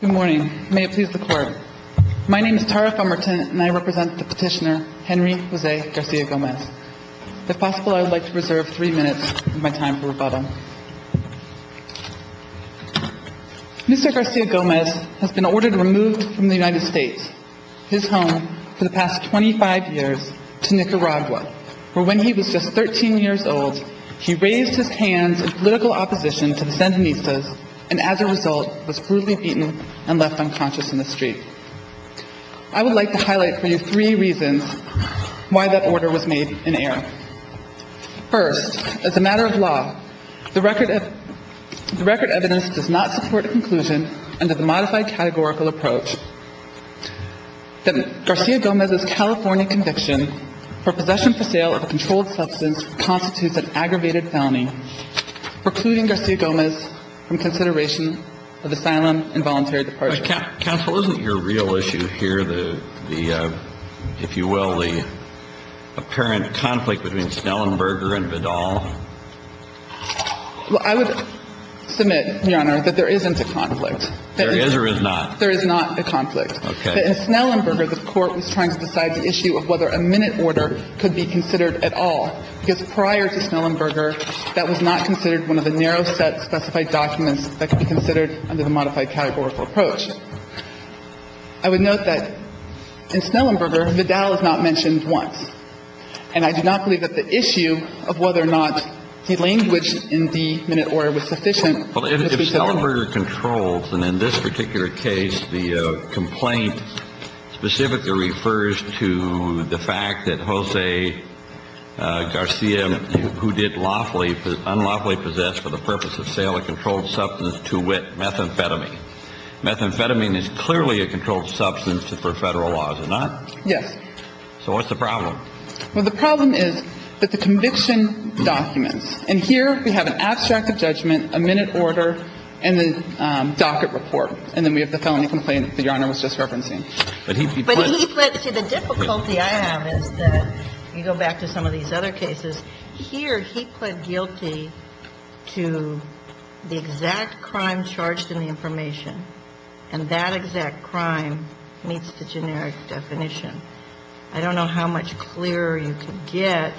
Good morning. May it please the court. My name is Tara Fumerton and I represent the petitioner Henry Jose Garcia-Gomez. If possible, I would like to reserve three minutes of my time for rebuttal. Mr. Garcia-Gomez has been ordered removed from the United States, his home for the past 25 years, to Nicaragua, where when he was just 13 years old he raised his hands in political opposition to the Sandinistas and as a result was brutally beaten and left unconscious in the street. I would like to highlight for you three reasons why that order was made in error. First, as a matter of law, the record evidence does not support a conclusion under the modified categorical approach that Garcia-Gomez's California conviction for possession for sale of a controlled substance constitutes an aggravated felony, precluding Garcia-Gomez from consideration of asylum and voluntary departure. Counsel, isn't your real issue here the, if you will, the apparent conflict between Snellenberger and Vidal? Well, I would submit, Your Honor, that there isn't a conflict. There is or is not? There is not a conflict. Okay. But in Snellenberger, the Court was trying to decide the issue of whether a minute Snellenberger that was not considered one of the narrow-set specified documents that could be considered under the modified categorical approach. I would note that in Snellenberger, Vidal is not mentioned once. And I do not believe that the issue of whether or not he languished in the minute order was sufficient. Well, if Snellenberger controls, and in this particular case the complaint specifically refers to the fact that Jose Garcia, who did unlawfully possess for the purpose of sale of a controlled substance to wit, methamphetamine. Methamphetamine is clearly a controlled substance for Federal laws, is it not? Yes. So what's the problem? Well, the problem is that the conviction documents. And here we have an abstract of judgment, a minute order, and the docket report. And then we have the felony complaint that Your Honor was just referencing. But he put. But he put. See, the difficulty I have is that, you go back to some of these other cases, here he put guilty to the exact crime charged in the information. And that exact crime meets the generic definition. I don't know how much clearer you can get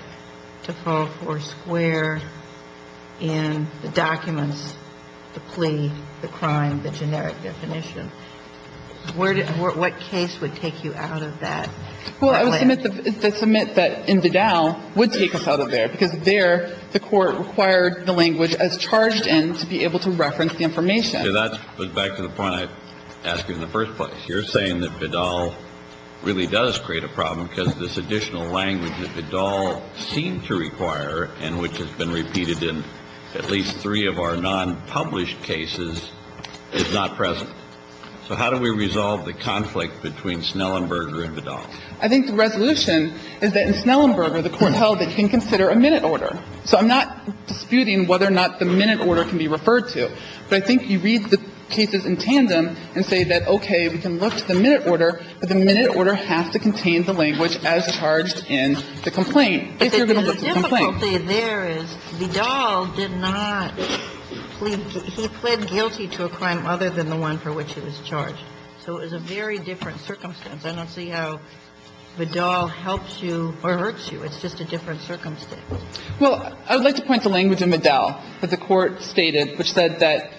to fall four square in the documents, the plea, the crime, the generic definition. What case would take you out of that? Well, I would submit that Bedal would take us out of there, because there the Court required the language as charged in to be able to reference the information. That's back to the point I asked you in the first place. You're saying that Bedal really does create a problem, because this additional language that Bedal seemed to require and which has been repeated in at least three of our nonpublished cases is not present. So how do we resolve the conflict between Snellenberger and Bedal? I think the resolution is that in Snellenberger, the Court held that you can consider a minute order. So I'm not disputing whether or not the minute order can be referred to. But I think you read the cases in tandem and say that, okay, we can look to the minute order, but the minute order has to contain the language as charged in the complaint. But the difficulty there is Bedal did not plead – he pled guilty to a crime other than the one for which he was charged. So it was a very different circumstance. I don't see how Bedal helps you or hurts you. It's just a different circumstance. Well, I would like to point to language in Bedal that the Court stated, which said that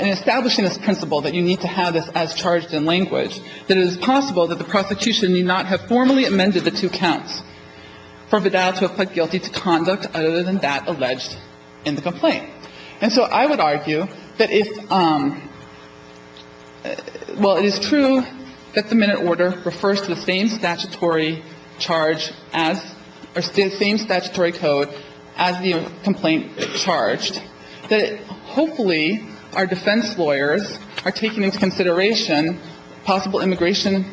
in establishing this principle that you need to have this as charged in language, that it is possible that the prosecution need not have formally amended the two counts for Bedal to have pled guilty to conduct other than that alleged in the complaint. And so I would argue that if – well, it is true that the minute order refers to the same statutory charge as – or the same statutory code as the complaint charged, that hopefully our defense lawyers are taking into consideration possible immigration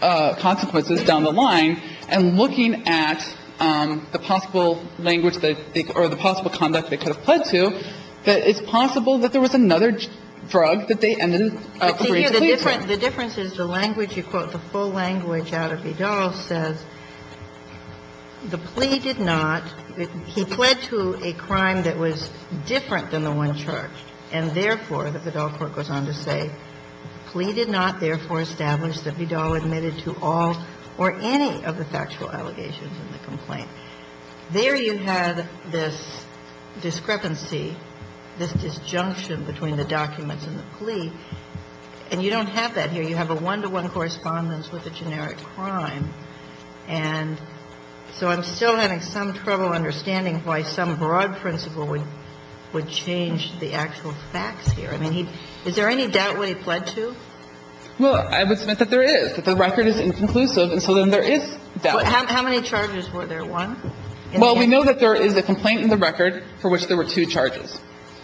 consequences down the line and looking at the possible language that they – or the possible conduct they could have pled to, that it's possible that there was another drug that they ended up agreeing to plead to. The difference is the language. You quote the full language out of Bedal, says the plea did not – he pled to a crime that was different than the one charged, and therefore, the Bedal court goes on to say, plea did not therefore establish that Bedal admitted to all or any of the factual allegations in the complaint. There you have this discrepancy, this disjunction between the documents and the plea, and you don't have that here. You have a one-to-one correspondence with a generic crime. And so I'm still having some trouble understanding why some broad principle would change the actual facts here. I mean, is there any doubt what he pled to? Well, I would submit that there is, that the record is inconclusive, and so then there is doubt. How many charges were there, one? Well, we know that there is a complaint in the record for which there were two charges.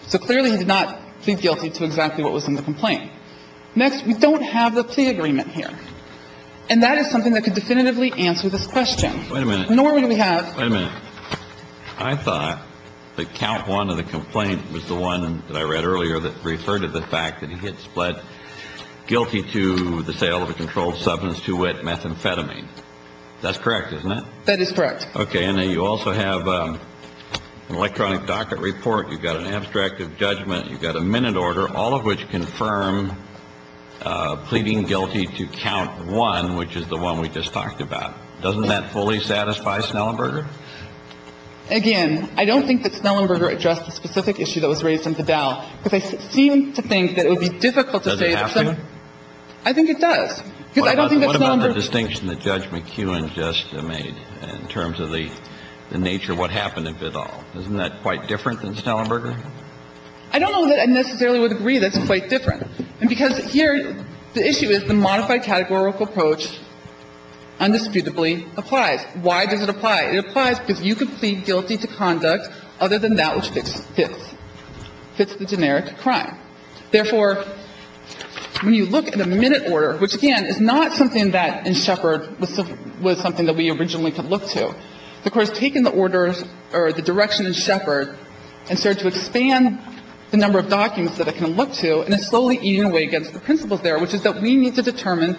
So clearly, he did not plead guilty to exactly what was in the complaint. Next, we don't have the plea agreement here. And that is something that could definitively answer this question. Wait a minute. Normally, we have. Wait a minute. I thought that count one of the complaints was the one that I read earlier that referred to the fact that he had pled guilty to the sale of a controlled substance to wit methamphetamine. That's correct, isn't it? That is correct. Okay. And then you also have an electronic docket report. You've got an abstract of judgment. You've got a minute order, all of which confirm pleading guilty to count one, which is the one we just talked about. Doesn't that fully satisfy Snellenberger? Again, I don't think that Snellenberger addressed the specific issue that was raised in the bail, because I seem to think that it would be difficult to say that someone Does it have to? I think it does, because I don't think that Snellenberger What about the distinction that Judge McEwen just made in terms of the nature of what happened at Bidall? Isn't that quite different than Snellenberger? I don't know that I necessarily would agree that's quite different. And because here the issue is the modified categorical approach undisputably applies. Why does it apply? It applies because you could plead guilty to conduct other than that which fits, fits the generic crime. Therefore, when you look at the minute order, which, again, is not something that in Sheppard was something that we originally could look to. The Court has taken the orders or the direction in Sheppard and started to expand the number of documents that it can look to and is slowly eating away against the principles there, which is that we need to determine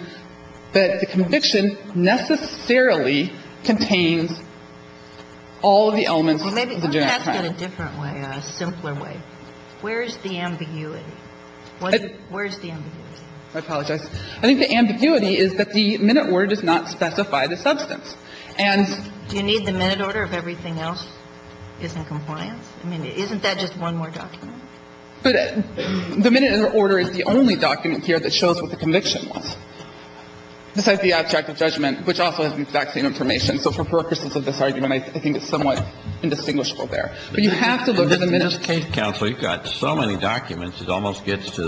that the conviction necessarily contains all of the elements of the generic crime. Well, maybe ask it a different way, a simpler way. Where is the ambiguity? Where is the ambiguity? I apologize. I think the ambiguity is that the minute order does not specify the substance. And do you need the minute order if everything else is in compliance? I mean, isn't that just one more document? But the minute order is the only document here that shows what the conviction was, besides the abstract of judgment, which also has vaccine information. So for purposes of this argument, I think it's somewhat indistinguishable But you have to look at the minute order. But in this case, counsel, you've got so many documents, it almost gets to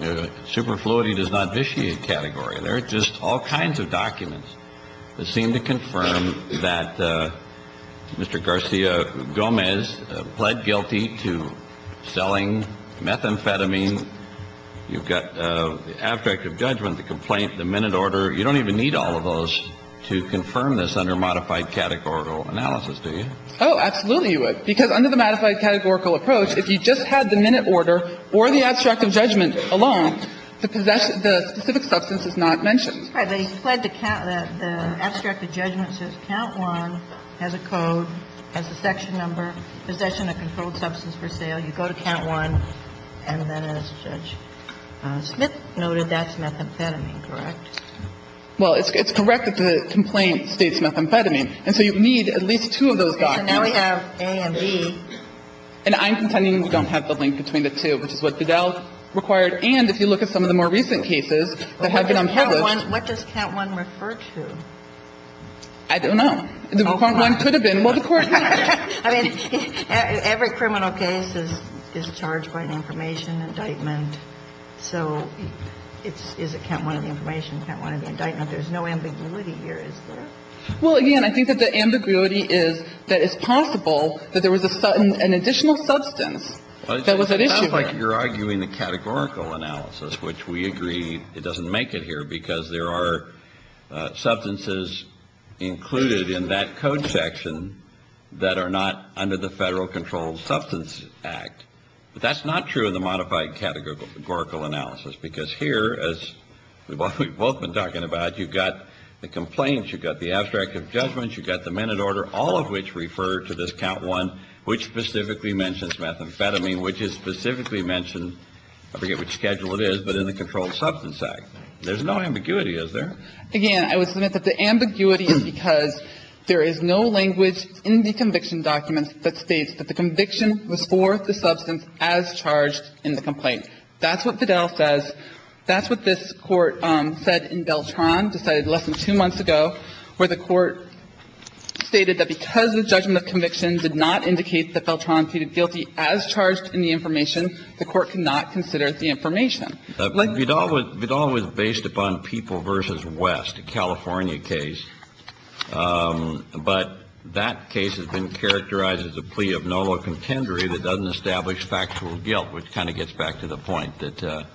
the superfluity does not vitiate category. There are just all kinds of documents that seem to confirm that Mr. Garcia-Gomez pled guilty to selling methamphetamine. You've got the abstract of judgment, the complaint, the minute order. You don't even need all of those to confirm this under modified categorical analysis, do you? Oh, absolutely you would. Because under the modified categorical approach, if you just had the minute order or the abstract of judgment alone, the specific substance is not mentioned. All right. But he pled the abstract of judgment says count one has a code, has a section number, possession of controlled substance for sale. You go to count one. And then as Judge Smith noted, that's methamphetamine, correct? Well, it's correct that the complaint states methamphetamine. And so you need at least two of those documents. Okay. So now we have A and B. And I'm contending you don't have the link between the two, which is what Fidel required. And if you look at some of the more recent cases that have been unpublished What does count one refer to? I don't know. The one could have been what the Court needs. I mean, every criminal case is charged by an information indictment. So is it count one of the information, count one of the indictment? There's no ambiguity here, is there? Well, again, I think that the ambiguity is that it's possible that there was an additional substance that was at issue there. It sounds like you're arguing the categorical analysis, which we agree it doesn't make it here because there are substances included in that code section that are not under the Federal Controlled Substance Act. But that's not true in the modified categorical analysis. Because here, as we've both been talking about, you've got the complaints, you've got the abstract of judgments, you've got the minute order, all of which refer to this count one, which specifically mentions methamphetamine, which is specifically mentioned I forget what schedule it is, but in the Controlled Substance Act. There's no ambiguity, is there? Again, I would submit that the ambiguity is because there is no language in the conviction documents that states that the conviction was for the substance as charged in the complaint. That's what Vidal says. That's what this Court said in Beltran, decided less than two months ago, where the Court stated that because the judgment of conviction did not indicate that Beltran pleaded guilty as charged in the information, the Court could not consider the information. But Vidal was based upon People v. West, a California case. But that case has been characterized as a plea of no law contendery that doesn't establish factual guilt, which kind of gets back to the point that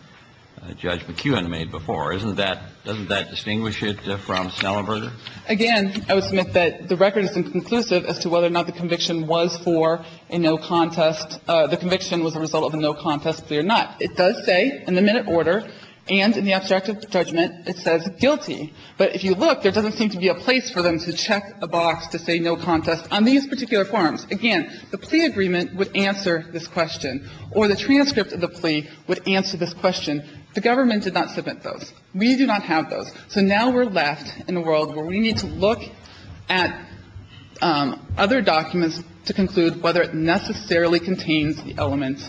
Judge McKeown made before. Doesn't that distinguish it from Snellenberger? Again, I would submit that the record is inconclusive as to whether or not the conviction was for a no contest. The conviction was a result of a no contest plea or not. It does say in the minute order and in the abstract of judgment, it says guilty. But if you look, there doesn't seem to be a place for them to check a box to say no contest on these particular forms. Again, the plea agreement would answer this question. Or the transcript of the plea would answer this question. The government did not submit those. We do not have those. So now we're left in a world where we need to look at other documents to conclude whether it necessarily contains the elements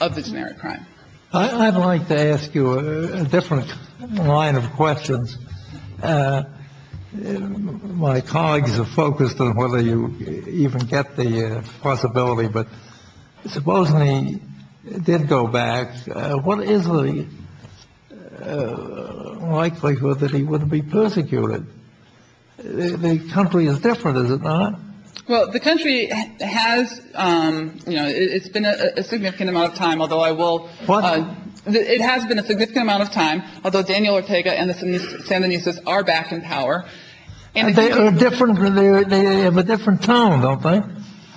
of the generic crime. I'd like to ask you a different line of questions. My colleagues are focused on whether you even get the possibility. But supposing he did go back, what is the likelihood that he wouldn't be persecuted? The country is different, is it not? Well, the country has, you know, it's been a significant amount of time, although I will. What? It has been a significant amount of time, although Daniel Ortega and the Sandinistas are back in power. And they are different. They have a different tone, don't they?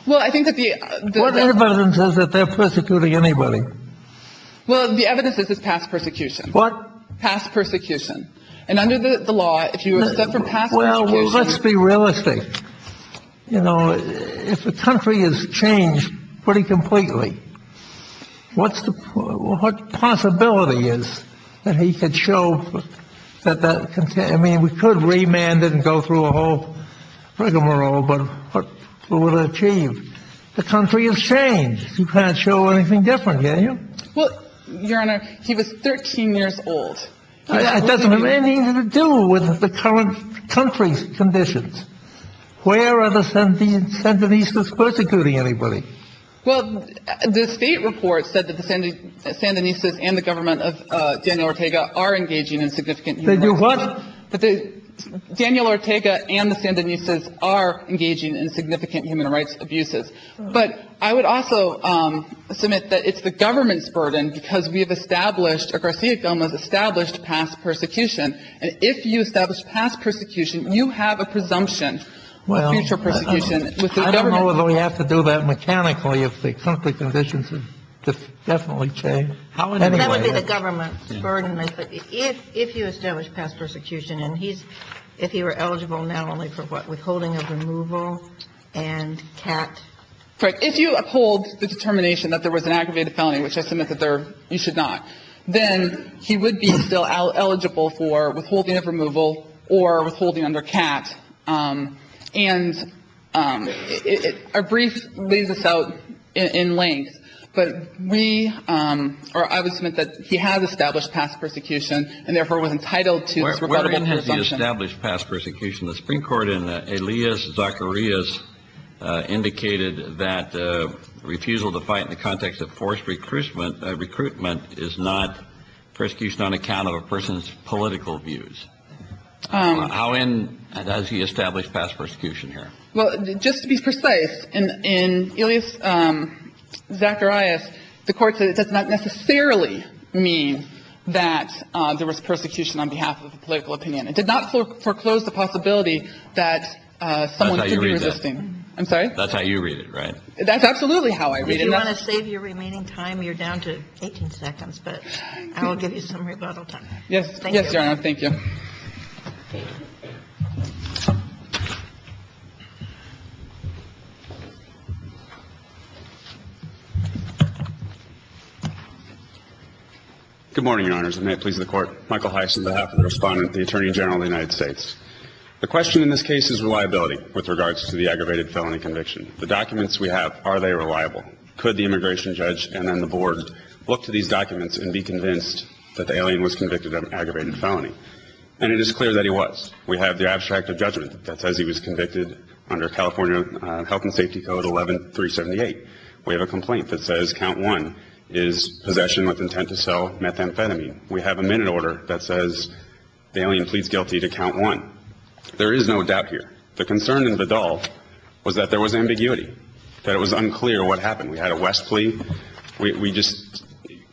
Well, I think that the. What evidence is that they're persecuting anybody? Well, the evidence is this past persecution. What? Past persecution. And under the law, if you accept from past persecution. Well, let's be realistic. You know, if the country has changed pretty completely, what's the. What possibility is that he could show that that. I mean, we could remand and go through a whole rigmarole, but what would achieve the country has changed. You can't show anything different. Can you? Well, Your Honor, he was 13 years old. It doesn't have anything to do with the current country's conditions. Where are the 17 Sandinistas persecuting anybody? Well, the state report said that the Sandinistas and the government of Daniel Ortega are engaging in significant. They do what? Daniel Ortega and the Sandinistas are engaging in significant human rights abuses. But I would also submit that it's the government's burden because we have established or Garcia Gomez established past persecution. And if you establish past persecution, you have a presumption of future persecution with the government. Well, then we have to do that mechanically if the country's conditions have definitely changed. That would be the government's burden. If you establish past persecution and he's, if he were eligible not only for what, withholding of removal and CAT. Correct. If you uphold the determination that there was an aggravated felony, which I submit that there, you should not, then he would be still eligible for withholding of removal or withholding under CAT. And our brief leaves us out in length. But we, or I would submit that he has established past persecution and therefore was entitled to this rebuttable presumption. Where has he established past persecution? The Supreme Court in Elias Zacharias indicated that refusal to fight in the context of forced recruitment is not persecution on account of a person's political views. How in does he establish past persecution here? Well, just to be precise, in Elias Zacharias, the Court said it does not necessarily mean that there was persecution on behalf of a political opinion. It did not foreclose the possibility that someone could be resisting. That's how you read that. I'm sorry? That's how you read it, right? That's absolutely how I read it. If you want to save your remaining time, you're down to 18 seconds. But I will give you some rebuttal time. Yes. Yes, Your Honor. Thank you. Good morning, Your Honors. And may it please the Court. Michael Heiss on behalf of the Respondent, the Attorney General of the United States. The question in this case is reliability with regards to the aggravated felony conviction. The documents we have, are they reliable? Could the immigration judge and then the board look to these documents and be convinced that the alien was convicted of an aggravated felony? And it is clear that he was. We have the abstract of judgment that says he was convicted under California Health and Safety Code 11-378. We have a complaint that says count one is possession with intent to sell methamphetamine. We have a minute order that says the alien pleads guilty to count one. There is no doubt here. The concern in Vidal was that there was ambiguity, that it was unclear what happened. We had a West plea. We just,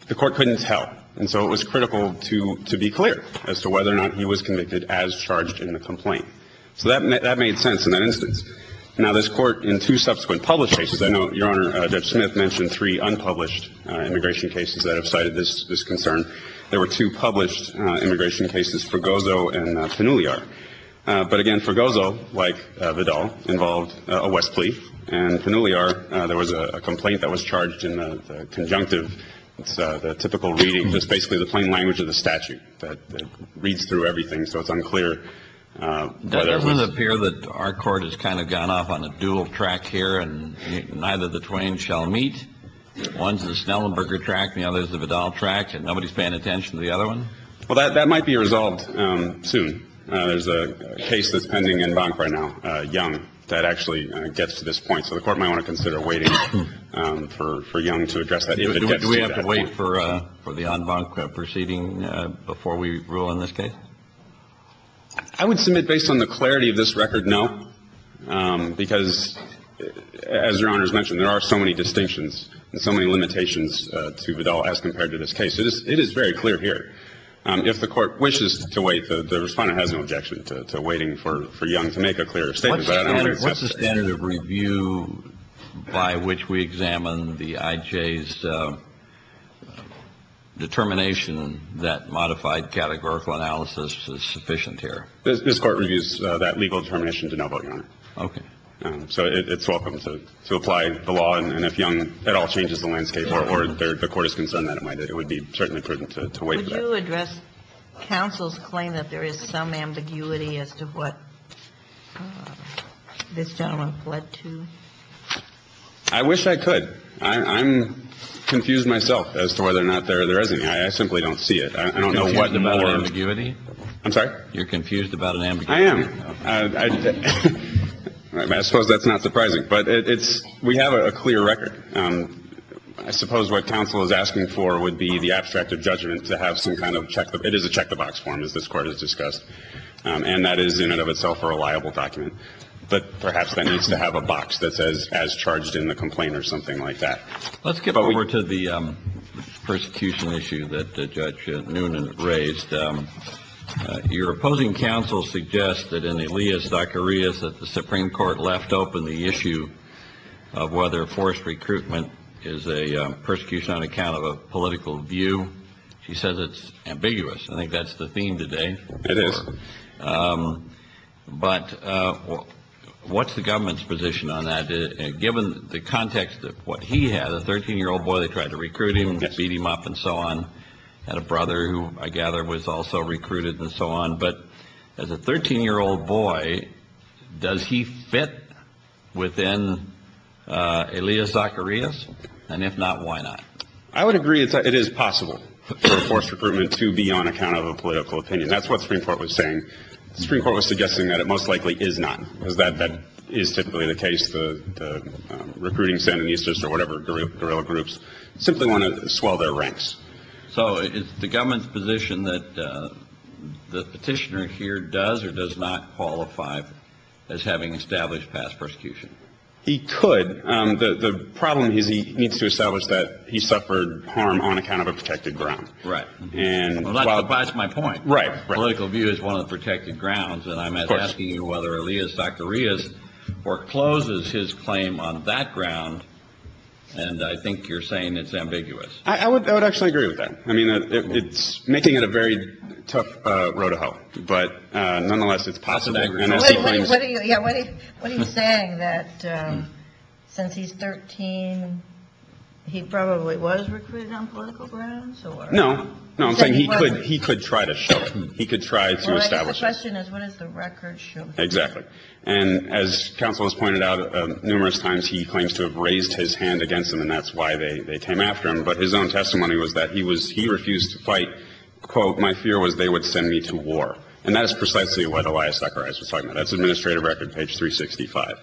the Court couldn't tell. And so it was critical to be clear as to whether or not he was convicted as charged in the complaint. So that made sense in that instance. Now this Court in two subsequent published cases, I know Your Honor Judge Smith mentioned three unpublished immigration cases that have cited this concern. There were two published immigration cases, Fregoso and Panuliar. But again, Fregoso, like Vidal, involved a West plea. And Panuliar, there was a complaint that was charged in the conjunctive. It's the typical reading. It's basically the plain language of the statute that reads through everything, so it's unclear whether it was. Doesn't it appear that our Court has kind of gone off on a dual track here and neither of the twain shall meet? One's the Snellenberger track and the other's the Vidal track and nobody's paying attention to the other one? Well, that might be resolved soon. There's a case that's pending en banc right now, Young, that actually gets to this point. So the Court might want to consider waiting for Young to address that if it gets to that point. Do we have to wait for the en banc proceeding before we rule in this case? I would submit based on the clarity of this record, no, because as Your Honor has mentioned, there are so many distinctions and so many limitations to Vidal as compared to this case. It is very clear here. If the Court wishes to wait, the Respondent has no objection to waiting for Young to make a clearer statement. What's the standard of review by which we examine the IJ's determination that modified categorical analysis is sufficient here? This Court reviews that legal determination to no vote, Your Honor. Okay. So it's welcome to apply the law, and if Young at all changes the landscape or the Court is concerned that it might, it would be certainly prudent to wait for that. Would you address counsel's claim that there is some ambiguity as to what this gentleman fled to? I wish I could. I'm confused myself as to whether or not there is any. I simply don't see it. I don't know what the more ambiguity. I'm sorry? You're confused about an ambiguity. I am. I suppose that's not surprising. But we have a clear record. I suppose what counsel is asking for would be the abstract of judgment to have some kind of check. It is a check-the-box form, as this Court has discussed. And that is in and of itself a reliable document. But perhaps that needs to have a box that says, as charged in the complaint or something like that. Let's get over to the persecution issue that Judge Noonan raised. Your opposing counsel suggests that in the alias Dr. Rios that the Supreme Court left open the issue of whether forced recruitment is a persecution on account of a political view. She says it's ambiguous. I think that's the theme today. It is. But what's the government's position on that? Given the context of what he had, a 13-year-old boy, they tried to recruit him and beat him up and so on. He had a brother who, I gather, was also recruited and so on. But as a 13-year-old boy, does he fit within alias Dr. Rios? And if not, why not? I would agree it is possible for forced recruitment to be on account of a political opinion. That's what the Supreme Court was saying. The Supreme Court was suggesting that it most likely is not, because that is typically the case. Recruiting Sandinistas or whatever guerrilla groups simply want to swell their ranks. So is the government's position that the petitioner here does or does not qualify as having established past persecution? He could. The problem is he needs to establish that he suffered harm on account of a protected ground. Right. That's my point. Right. Political view is one of the protected grounds. And I'm asking you whether alias Dr. Rios forecloses his claim on that ground. And I think you're saying it's ambiguous. I would actually agree with that. I mean, it's making it a very tough road to hoe. But nonetheless, it's possible. What are you saying, that since he's 13, he probably was recruited on political grounds? No. No, I'm saying he could try to show it. He could try to establish it. Well, I guess the question is, what does the record show? Exactly. And as counsel has pointed out numerous times, he claims to have raised his hand against him, and that's why they came after him. But his own testimony was that he refused to fight. Quote, my fear was they would send me to war. And that is precisely what alias Dr. Rios was talking about. That's administrative record, page 365.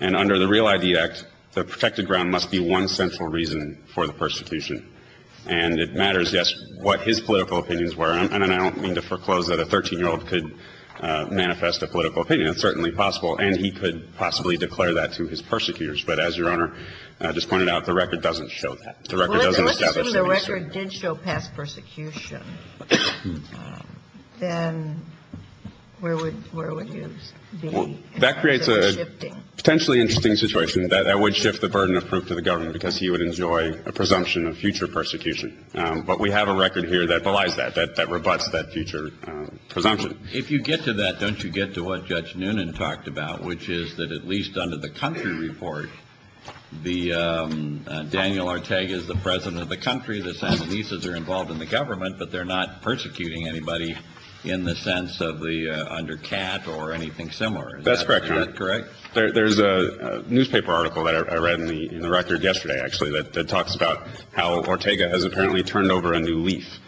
And under the Real ID Act, the protected ground must be one central reason for the persecution. And it matters, yes, what his political opinions were. And I don't mean to foreclose that a 13-year-old could manifest a political opinion. It's certainly possible. And he could possibly declare that to his persecutors. But as Your Honor just pointed out, the record doesn't show that. The record doesn't establish that. Well, let's assume the record did show past persecution. Then where would you be? That creates a potentially interesting situation. That would shift the burden of proof to the government because he would enjoy a presumption of future persecution. But we have a record here that belies that, that rebutts that future presumption. If you get to that, don't you get to what Judge Noonan talked about, which is that at least under the country report, Daniel Ortega is the president of the country, the Sandinistas are involved in the government, but they're not persecuting anybody in the sense of the undercat or anything similar. That's correct, Your Honor. Is that correct? There's a newspaper article that I read in the record yesterday, actually, that talks about how Ortega has apparently turned over a new leaf.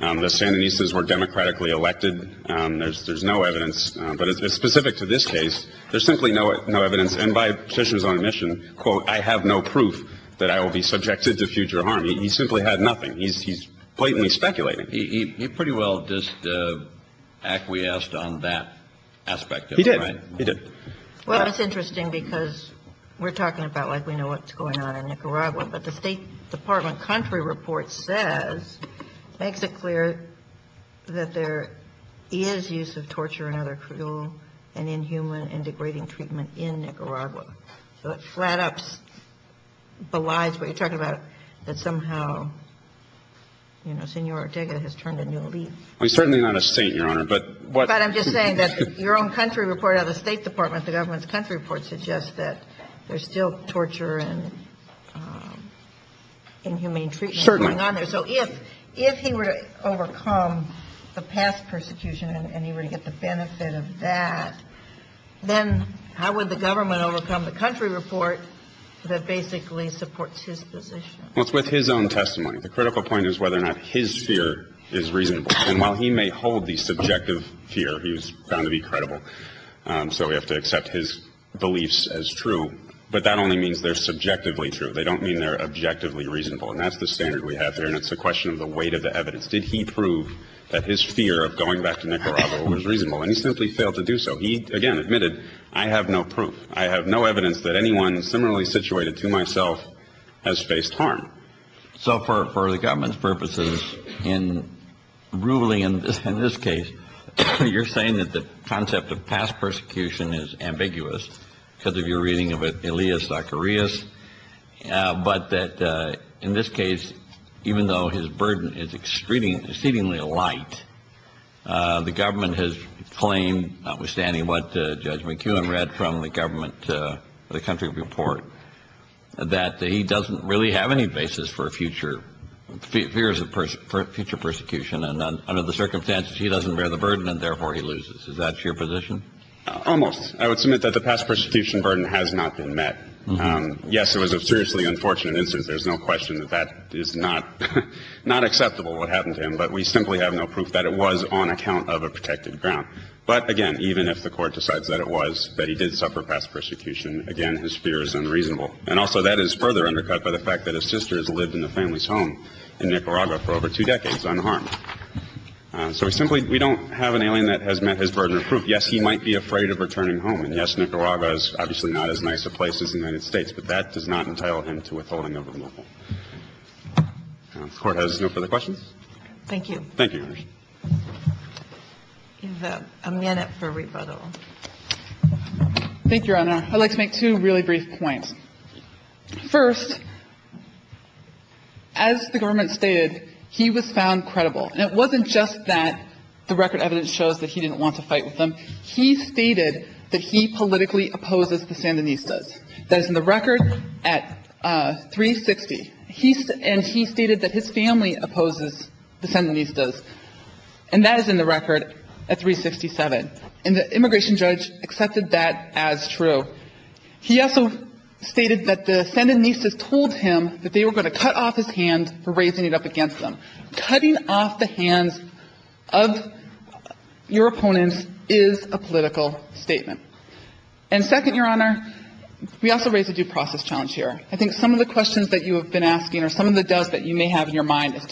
The Sandinistas were democratically elected. There's no evidence. But it's specific to this case. There's simply no evidence. And by Petitioner's own admission, quote, I have no proof that I will be subjected to future harm. He simply had nothing. He's blatantly speculating. He pretty well just acquiesced on that aspect. He did. Well, it's interesting because we're talking about like we know what's going on in Nicaragua. But the State Department country report says, makes it clear that there is use of torture and other cruel and inhuman and degrading treatment in Nicaragua. So it flat-ups, belies what you're talking about, that somehow, you know, Senor Ortega has turned a new leaf. He's certainly not a saint, Your Honor. But I'm just saying that your own country report out of the State Department, the government's country report suggests that there's still torture and inhumane treatment going on there. Certainly. So if he were to overcome the past persecution and he were to get the benefit of that, then how would the government overcome the country report that basically supports his position? Well, it's with his own testimony. The critical point is whether or not his fear is reasonable. And while he may hold the subjective fear, he was found to be credible. So we have to accept his beliefs as true. But that only means they're subjectively true. They don't mean they're objectively reasonable. And that's the standard we have here. And it's a question of the weight of the evidence. Did he prove that his fear of going back to Nicaragua was reasonable? And he simply failed to do so. He, again, admitted, I have no proof. I have no evidence that anyone similarly situated to myself has faced harm. So for the government's purposes in ruling in this case, you're saying that the concept of past persecution is ambiguous because of your reading of it, Elias Zacharias, but that in this case, even though his burden is exceedingly light, the government has claimed, notwithstanding what Judge McKeown read from the government, the country report, that he doesn't really have any basis for future fears of future persecution. And under the circumstances, he doesn't bear the burden, and therefore he loses. Is that your position? Almost. I would submit that the past persecution burden has not been met. Yes, it was a seriously unfortunate incident. There's no question that that is not acceptable, what happened to him. But we simply have no proof that it was on account of a protected ground. But, again, even if the Court decides that it was, that he did suffer past persecution, again, his fear is unreasonable. And also that is further undercut by the fact that his sister has lived in the family's home in Nicaragua for over two decades unharmed. So we simply don't have an alien that has met his burden of proof. Yes, he might be afraid of returning home, and yes, Nicaragua is obviously not as nice a place as the United States, but that does not entitle him to withholding a removal. If the Court has no further questions. Thank you. Thank you, Your Honor. A minute for rebuttal. Thank you, Your Honor. I'd like to make two really brief points. First, as the government stated, he was found credible. And it wasn't just that the record evidence shows that he didn't want to fight with them. He stated that he politically opposes the Sandinistas. That is in the record at 360. And he stated that his family opposes the Sandinistas. And that is in the record at 367. And the immigration judge accepted that as true. He also stated that the Sandinistas told him that they were going to cut off his hand for raising it up against them. Cutting off the hands of your opponents is a political statement. And second, Your Honor, we also raise a due process challenge here. I think some of the questions that you have been asking or some of the doubts that you have raised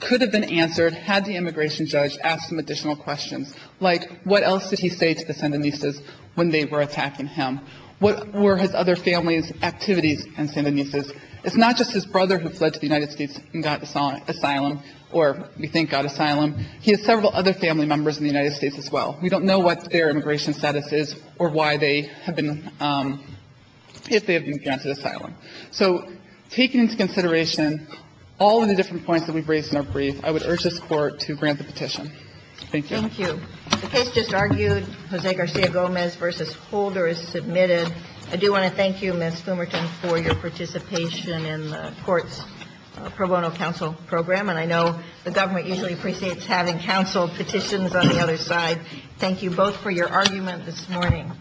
could have been answered had the immigration judge asked some additional questions, like what else did he say to the Sandinistas when they were attacking him? What were his other family's activities in Sandinistas? It's not just his brother who fled to the United States and got asylum or, we think, got asylum. He has several other family members in the United States as well. We don't know what their immigration status is or why they have been ‑‑ if they have been granted asylum. So taking into consideration all of the different points that we have raised in our brief, I would urge this Court to grant the petition. Thank you. Thank you. The case just argued, Jose Garcia Gomez v. Holder is submitted. I do want to thank you, Ms. Fumerton, for your participation in the court's pro bono counsel program. And I know the government usually appreciates having counsel petitions on the other Thank you both for your argument this morning.